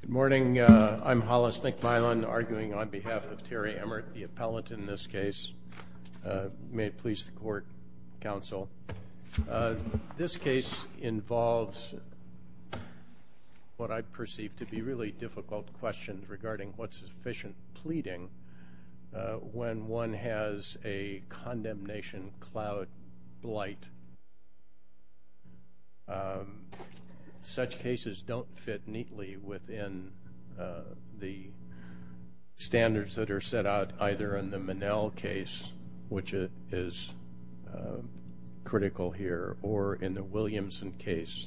Good morning. I'm Hollis McMillen, arguing on behalf of Terry Emmert, the appellant in this case. May it please the court, counsel. This case involves what I perceive to be really difficult questions regarding what's sufficient pleading when one has a condemnation cloud blight. And such cases don't fit neatly within the standards that are set out either in the Monell case, which is critical here, or in the Williamson case.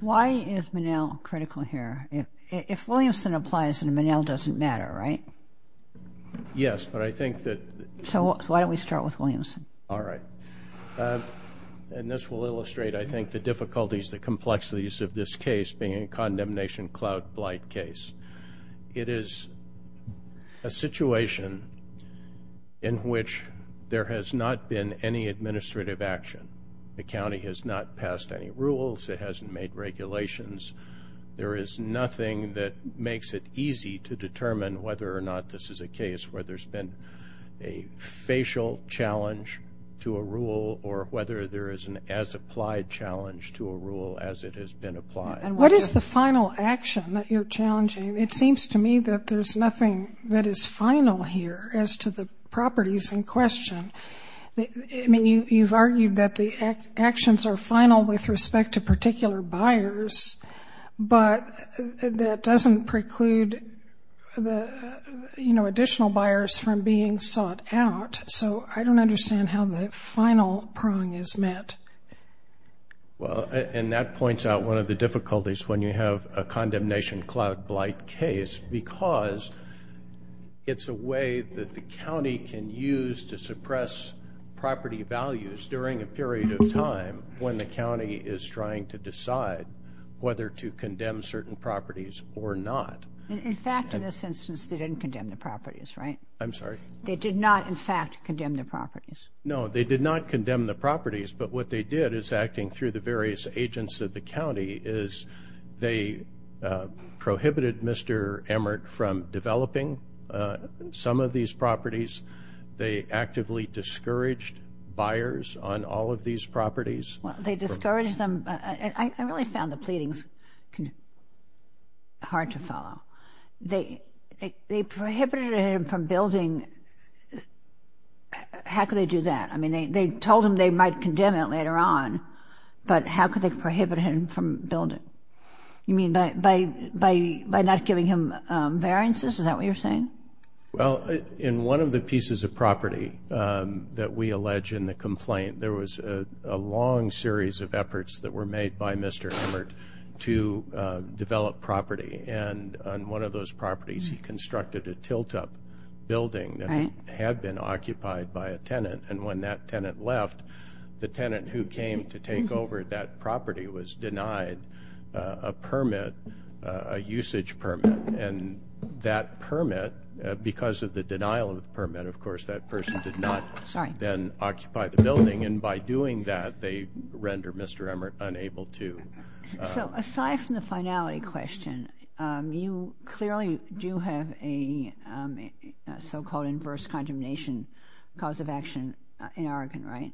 Why is Monell critical here? If Williamson applies and Monell doesn't matter, right? Yes. But I think that... So why don't we start with Williamson? All right. And this will illustrate, I think, the difficulties, the complexities of this case being a condemnation cloud blight case. It is a situation in which there has not been any administrative action. The county has not passed any rules, it hasn't made regulations. There is nothing that makes it easy to determine whether or not this is a case where there's been a facial challenge to a rule or whether there is an as-applied challenge to a rule as it has been applied. And what is the final action that you're challenging? It seems to me that there's nothing that is final here as to the properties in question. I mean, you've argued that the actions are final with respect to particular buyers, but that doesn't preclude the additional buyers from being sought out. So I don't understand how the final prong is met. Well, and that points out one of the difficulties when you have a condemnation cloud blight case, because it's a way that the county can use to suppress property values during a period of time when the county is trying to decide whether to condemn certain properties or not. In fact, in this instance, they didn't condemn the properties, right? I'm sorry? They did not, in fact, condemn the properties. No, they did not condemn the properties, but what they did is acting through the various agents of the county is they prohibited Mr. Emmert from developing some of these properties. They actively discouraged buyers on all of these properties. Well, they discouraged them. I really found the pleadings hard to follow. They prohibited him from building. How could they do that? I mean, they told him they might condemn it later on, but how could they prohibit him from building? You mean by not giving him variances? Is that what you're saying? Well, in one of the pieces of property that we allege in the complaint, there was a long series of efforts that were made by Mr. Emmert to develop property. And on one of those properties, he constructed a tilt-up building that had been occupied by a tenant. And when that tenant left, the tenant who came to take over that property was denied a permit, a usage permit. And that permit, because of the denial of the permit, of course, that person did not then occupy the building. And by doing that, they rendered Mr. Emmert unable to. So, aside from the finality question, you clearly do have a so-called inverse condemnation cause of action in Oregon, right?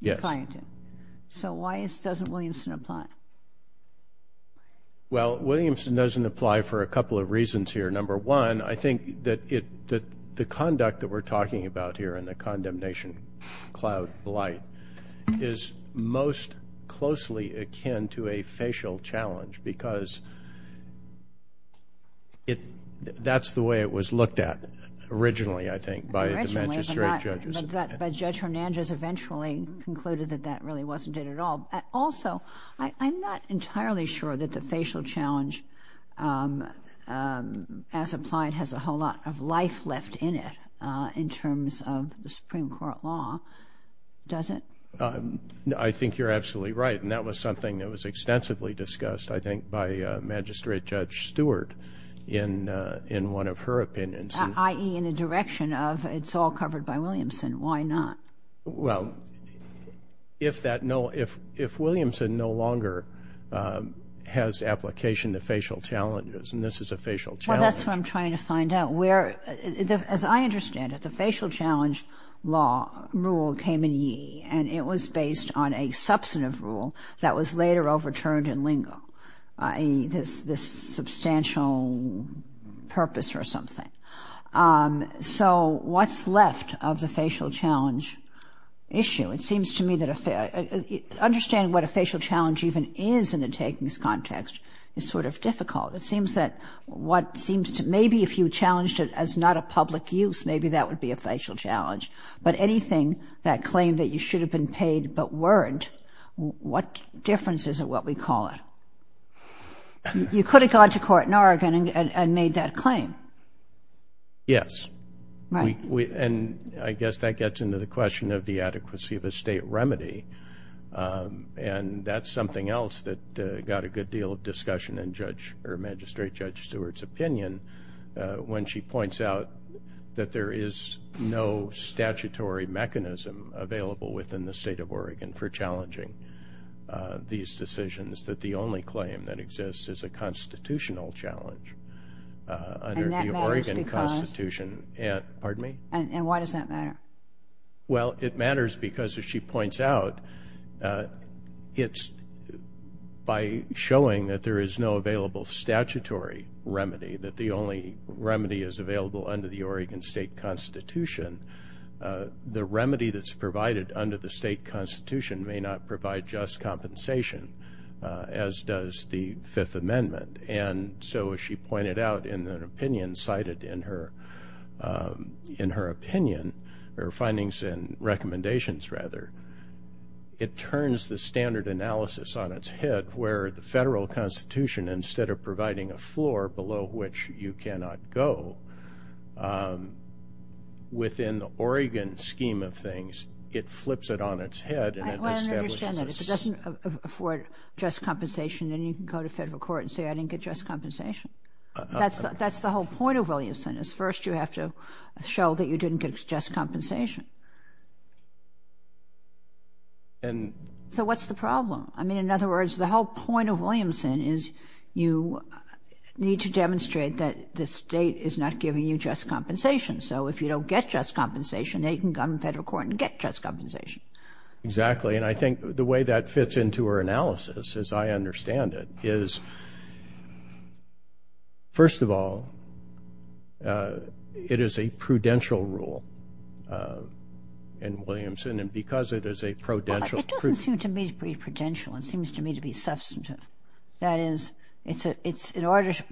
Yes. So, why doesn't Williamson apply? Well, Williamson doesn't apply for a couple of reasons here. Number one, I think that the conduct that we're talking about here in the condemnation cloud blight is most closely akin to a facial challenge because that's the way it was looked at originally, I think, by the Manchester 8 judges. But Judge Hernandez eventually concluded that that really wasn't it at all. Also, I'm not entirely sure that the facial challenge as applied has a whole lot of life left in it in terms of the Supreme Court law, does it? I think you're absolutely right, and that was something that was extensively discussed, I think, by Magistrate Judge Stewart in one of her opinions. I.e., in the direction of it's all covered by Williamson, why not? Well, if Williamson no longer has application to facial challenges, and this is a facial challenge. Well, that's what I'm trying to find out. As I understand it, the facial challenge law rule came in Yee, and it was based on a substantive rule that was later overturned in Lingo, this substantial purpose or something. So what's left of the facial challenge issue? It seems to me that understanding what a facial challenge even is in the takings context is sort of difficult. It seems that maybe if you challenged it as not a public use, maybe that would be a facial challenge. But anything that claimed that you should have been paid but weren't, what difference is it what we call it? You could have gone to court in Oregon and made that claim. Yes. Right. And I guess that gets into the question of the adequacy of a state remedy, and that's something else that got a good deal of discussion in Magistrate Judge Stewart's opinion when she points out that there is no statutory mechanism available within the state of Oregon for challenging these decisions, that the only claim that exists is a constitutional challenge under the Oregon Constitution. And why does that matter? Well, it matters because, as she points out, it's by showing that there is no available statutory remedy, that the only remedy is available under the Oregon state constitution. The remedy that's provided under the state constitution may not provide just compensation, as does the Fifth Amendment. And so, as she pointed out in an opinion cited in her opinion, or findings and recommendations, rather, it turns the standard analysis on its head where the federal constitution, instead of providing a floor below which you cannot go, within the Oregon scheme of things, it flips it on its head and it establishes a standard. I don't understand that. If it doesn't afford just compensation, then you can go to federal court and say, I didn't get just compensation. That's the whole point of Williamson, is first you have to show that you didn't get just compensation. So, what's the problem? I mean, in other words, the whole point of Williamson is you need to demonstrate that the state is not giving you just compensation. So, if you don't get just compensation, then you can go to federal court and get just compensation. Exactly. And I think the way that fits into her analysis, as I understand it, is, first of all, it is a prudential rule in Williamson. And because it is a prudential rule. It doesn't seem to me to be prudential. It seems to me to be substantive. That is, it's in order to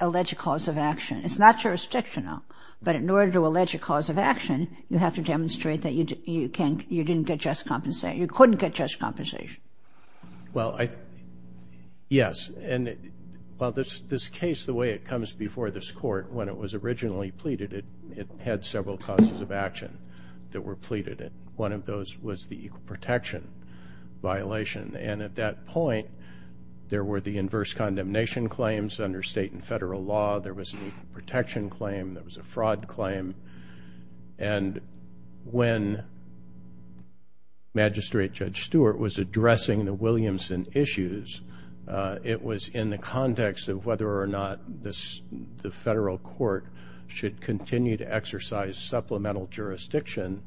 allege a cause of action. It's not jurisdictional. But in order to allege a cause of action, you have to demonstrate that you didn't get just compensation, you couldn't get just compensation. Well, yes. And, well, this case, the way it comes before this court, when it was originally pleaded, it had several causes of action that were pleaded. One of those was the equal protection violation. And at that point, there were the inverse condemnation claims under state and federal law. There was an equal protection claim. There was a fraud claim. And when Magistrate Judge Stewart was addressing the Williamson issues, it was in the context of whether or not the federal court should continue to exercise supplemental jurisdiction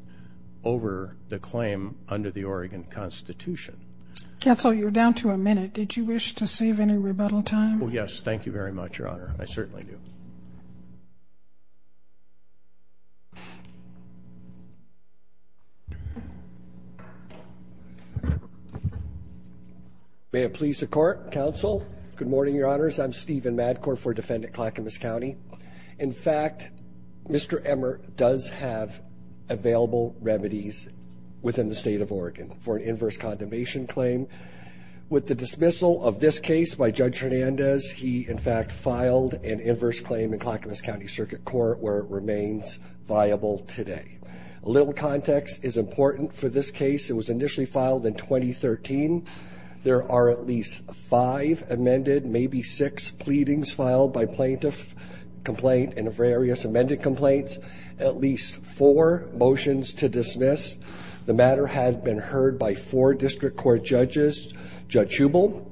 over the claim under the Oregon Constitution. Counsel, you're down to a minute. Did you wish to save any rebuttal time? Oh, yes. Thank you very much, Your Honor. I certainly do. May it please the Court. Counsel. Good morning, Your Honors. I'm Stephen Madcourt for Defendant Clackamas County. In fact, Mr. Emmer does have available remedies within the state of Oregon for an inverse condemnation claim. With the dismissal of this case by Judge Hernandez, he, in fact, filed an inverse claim in Clackamas County Circuit Court where it remains viable today. A little context is important for this case. It was initially filed in 2013. There are at least five amended, maybe six, pleadings filed by plaintiff complaint and various amended complaints, at least four motions to dismiss. The matter had been heard by four district court judges. Judge Hubel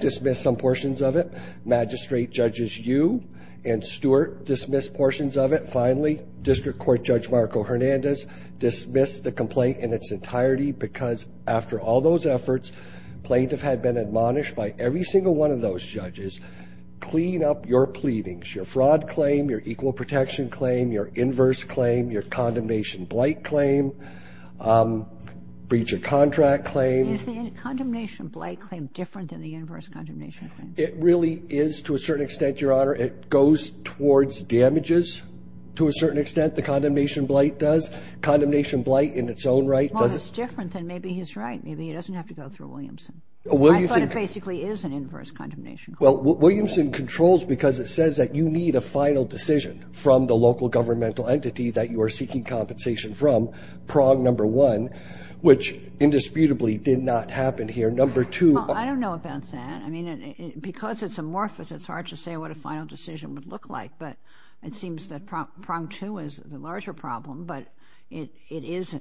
dismissed some portions of it. Magistrate Judges Yu and Stewart dismissed portions of it. Finally, District Court Judge Marco Hernandez dismissed the complaint in its entirety because after all those efforts, plaintiff had been admonished by every single one of those judges. Clean up your pleadings, your fraud claim, your equal protection claim, your inverse claim, your condemnation blight claim, breach of contract claim. Is the condemnation blight claim different than the inverse condemnation claim? It really is to a certain extent, Your Honor. It goes towards damages to a certain extent. The condemnation blight does. Condemnation blight in its own right does. Maybe it's different than, maybe he's right. Maybe he doesn't have to go through Williamson. I thought it basically is an inverse condemnation claim. Well, Williamson controls because it says that you need a final decision from the local governmental entity that you are seeking compensation from, prong number one, which indisputably did not happen here. Number two. Well, I don't know about that. I mean, because it's amorphous, it's hard to say what a final decision would look like. But it seems that prong two is the larger problem. But it is,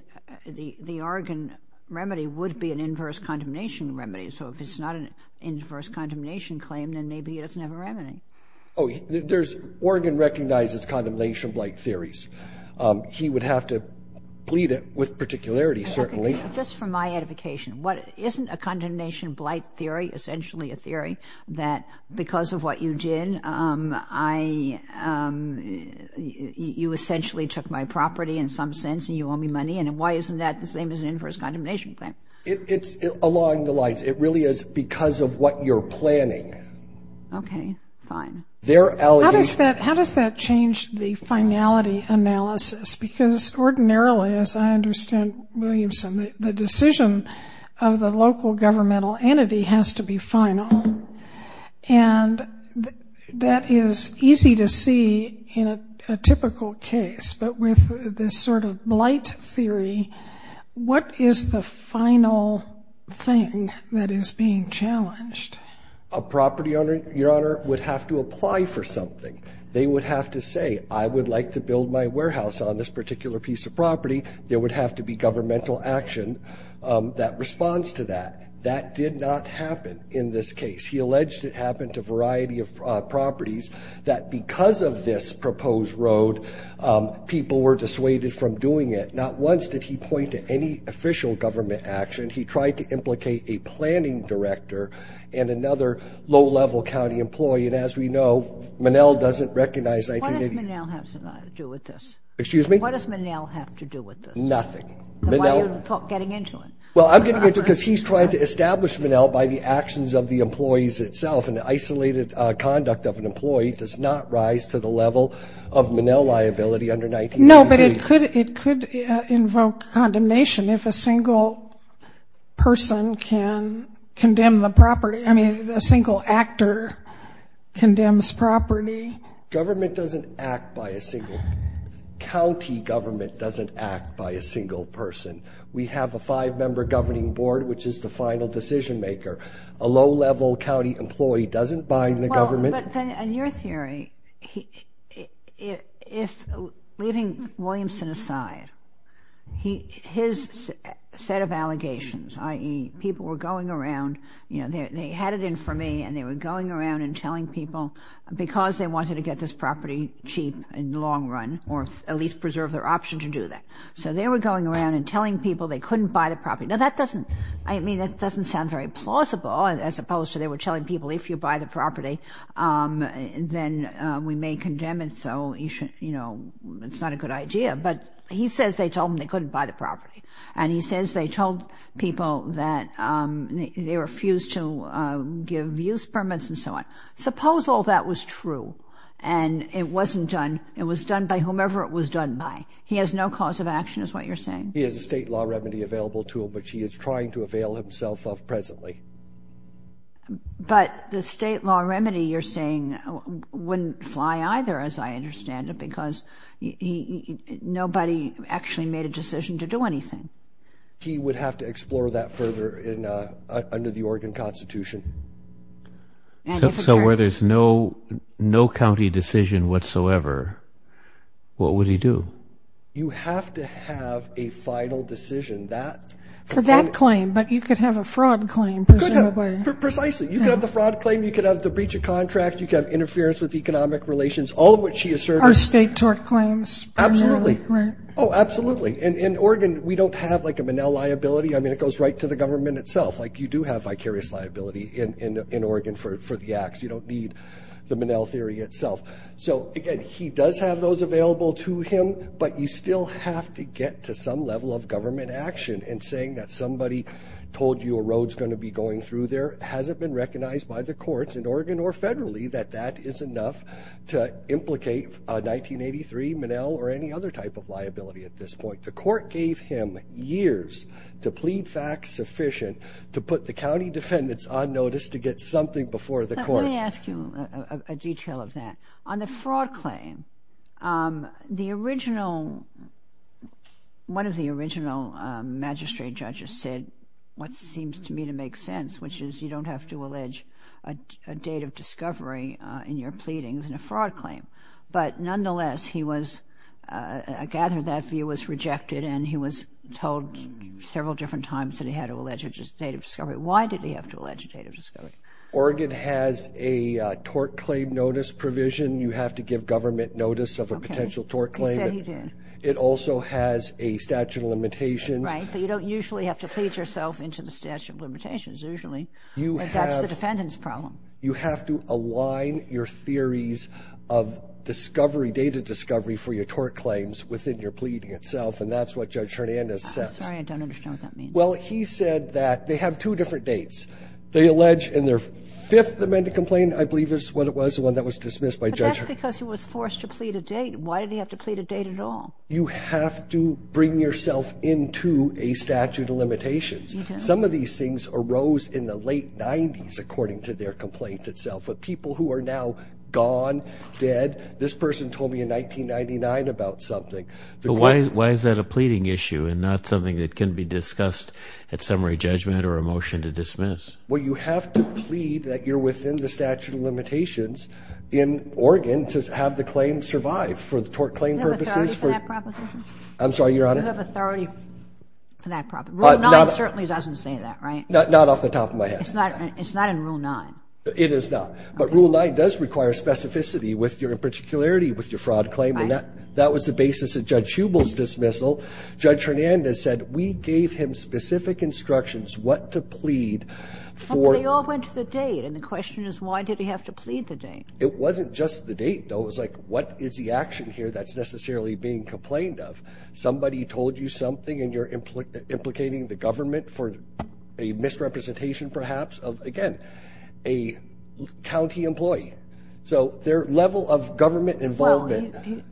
the Oregon remedy would be an inverse condemnation remedy. So if it's not an inverse condemnation claim, then maybe he doesn't have a remedy. Oh, there's, Oregon recognizes condemnation blight theories. He would have to plead it with particularity, certainly. Just for my edification, what, isn't a condemnation blight theory essentially a theory that because of what you did, I, you essentially took my property in some sense and you owe me money? And why isn't that the same as an inverse condemnation claim? It's along the lines. It really is because of what you're planning. Okay. Fine. How does that change the finality analysis? Because ordinarily, as I understand Williamson, the decision of the local governmental entity has to be final. And that is easy to see in a typical case, but with this sort of blight theory, what is the final thing that is being challenged? A property owner, your honor, would have to apply for something. They would have to say, I would like to build my warehouse on this particular piece of property. There would have to be governmental action that responds to that. That did not happen in this case. He alleged it happened to a variety of properties, that because of this proposed road, people were dissuaded from doing it. Not once did he point to any official government action. He tried to implicate a planning director and another low-level county employee. And as we know, Monell doesn't recognize 1980. What does Monell have to do with this? Excuse me? What does Monell have to do with this? Nothing. Then why are you getting into it? Well, I'm getting into it because he's trying to establish Monell by the actions of the employees itself. And the isolated conduct of an employee does not rise to the level of Monell liability under 1980. No, but it could invoke condemnation if a single person can condemn the property. I mean, a single actor condemns property. Government doesn't act by a single... County government doesn't act by a single person. We have a five-member governing board, which is the final decision-maker. A low-level county employee doesn't bind the government. Well, but then in your theory, leaving Williamson aside, his set of allegations, i.e. people were going around, you know, they had it in for me and they were going around and telling people because they wanted to get this property cheap in the long run or at least preserve their option to do that. So they were going around and telling people they couldn't buy the property. Now, that doesn't, I mean, that doesn't sound very plausible as opposed to they were telling people, if you buy the property, then we may condemn it. So, you know, it's not a good idea. But he says they told him they couldn't buy the property and he says they told people that they refused to give use permits and so on. Suppose all that was true and it wasn't done. It was done by whomever it was done by. He has no cause of action is what you're saying. He has a state law remedy available to him, which he is trying to avail himself of presently. But the state law remedy you're saying wouldn't fly either, as I understand it, because nobody actually made a decision to do anything. He would have to explore that further in under the Oregon Constitution. So where there's no no county decision whatsoever, what would he do? You have to have a final decision that for that claim, but you could have a fraud claim. Precisely. You could have the fraud claim. You could have the breach of contract. You could have interference with economic relations, all of which he asserts are state tort claims. Absolutely. Oh, absolutely. And in Oregon, we don't have like a Manel liability. I mean, it goes right to the government itself. Like you do have vicarious liability in Oregon for the acts. You don't need the Manel theory itself. So again, he does have those available to him, but you still have to get to some level of government action and saying that somebody told you a road's going to be going through there hasn't been recognized by the courts in Oregon or federally that that is enough to implicate 1983 Manel or any other type of liability. At this point, the court gave him years to plead fact sufficient to put the county defendants on notice to get something before the court. Let me ask you a detail of that. On the fraud claim, the original, one of the original magistrate judges said what seems to me to make sense, which is you don't have to allege a date of discovery in your pleadings in a fraud claim. But nonetheless, he was, I gather that view was rejected and he was told several different times that he had to allege a date of discovery. Why did he have to allege a date of discovery? Oregon has a tort claim notice provision. You have to give government notice of a potential tort claim. He said he did. It also has a statute of limitations. Right. But you don't usually have to plead yourself into the statute of limitations usually, but that's the defendant's problem. You have to align your theories of discovery, date of discovery for your tort claims within your pleading itself. And that's what Judge Hernandez says. Sorry, I don't understand what that means. Well, he said that they have two different dates. They allege in their fifth amended complaint, I believe is what it was, the one that was dismissed by Judge Hernandez. But that's because he was forced to plead a date. Why did he have to plead a date at all? You have to bring yourself into a statute of limitations. Some of these things arose in the late 90s according to their complaint itself. But people who are now gone, dead, this person told me in 1999 about something. But why is that a pleading issue and not something that can be discussed at Well, you have to plead that you're within the statute of limitations in Oregon to have the claim survive for the tort claim purposes. Do you have authority for that proposition? I'm sorry, Your Honor. Do you have authority for that proposition? Rule 9 certainly doesn't say that, right? Not off the top of my head. It's not in Rule 9. It is not. But Rule 9 does require specificity with your particularity with your fraud claim. Right. That was the basis of Judge Hubel's dismissal. Judge Hernandez said, we gave him specific instructions what to plead for They all went to the date. And the question is, why did he have to plead the date? It wasn't just the date, though. It was like, what is the action here that's necessarily being complained of? Somebody told you something and you're implicating the government for a misrepresentation, perhaps, of, again, a county employee. So their level of government involvement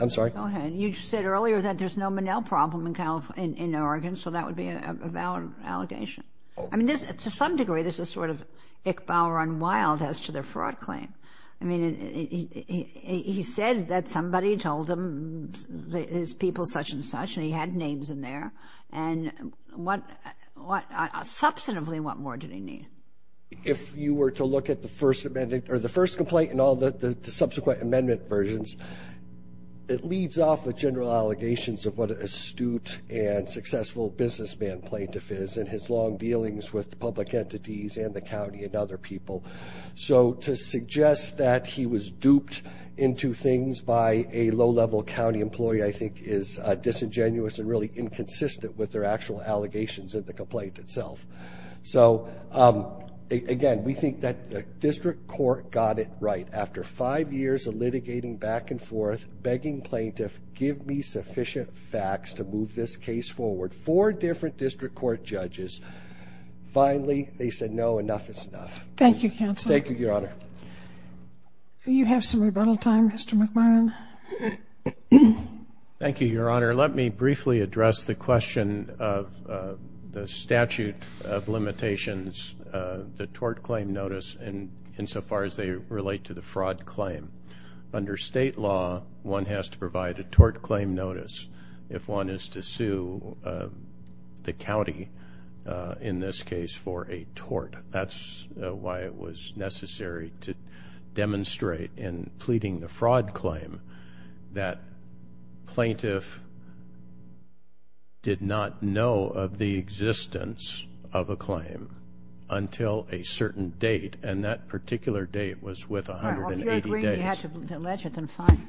I'm sorry. Go ahead. You said earlier that there's no Monell problem in Oregon. So that would be a valid allegation. I mean, to some degree, this is sort of Ick Bauer on Wilde as to their fraud claim. I mean, he said that somebody told him his people such and such. And he had names in there. And substantively, what more did he need? If you were to look at the first amendment or the first complaint and the subsequent amendment versions, it leads off with general allegations of what an astute and successful businessman plaintiff is and his long dealings with the public entities and the county and other people. So to suggest that he was duped into things by a low-level county employee, I think, is disingenuous and really inconsistent with their actual allegations of the complaint itself. So, again, we think that the district court got it right. After five years of litigating back and forth, begging plaintiff, give me sufficient facts to move this case forward. Four different district court judges. Finally, they said no, enough is enough. Thank you, counsel. Thank you, your honor. You have some rebuttal time, Mr. McMillan. Thank you, your honor. Your honor, let me briefly address the question of the statute of limitations, the tort claim notice, insofar as they relate to the fraud claim. Under state law, one has to provide a tort claim notice if one is to sue the county, in this case, for a tort. That's why it was necessary to demonstrate in pleading the fraud claim that plaintiff did not know of the existence of a claim until a certain date, and that particular date was with 180 days. All right, well, if you're agreeing you have to allege it, then fine.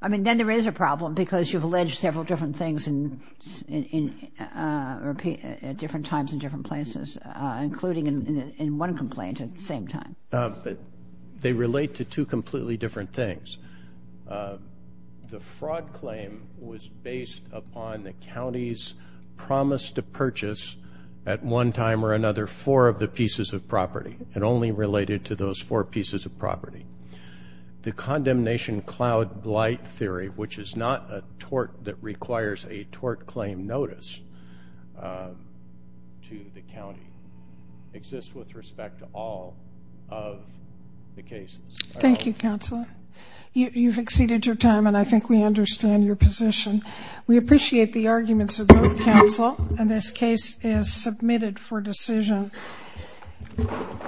I mean, then there is a problem because you've alleged several different things in, at different times in different places, including in one complaint at the same time. But they relate to two completely different things. The fraud claim was based upon the county's promise to purchase at one time or another four of the pieces of property, and only related to those four pieces of property. The condemnation cloud blight theory, which is not a tort that requires a tort claim notice to the county, exists with respect to all of the cases. Thank you, Counselor. You've exceeded your time, and I think we understand your position. We appreciate the arguments of both counsel, and this case is submitted for decision.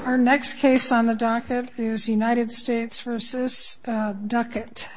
Our next case on the docket is United States versus Duckett.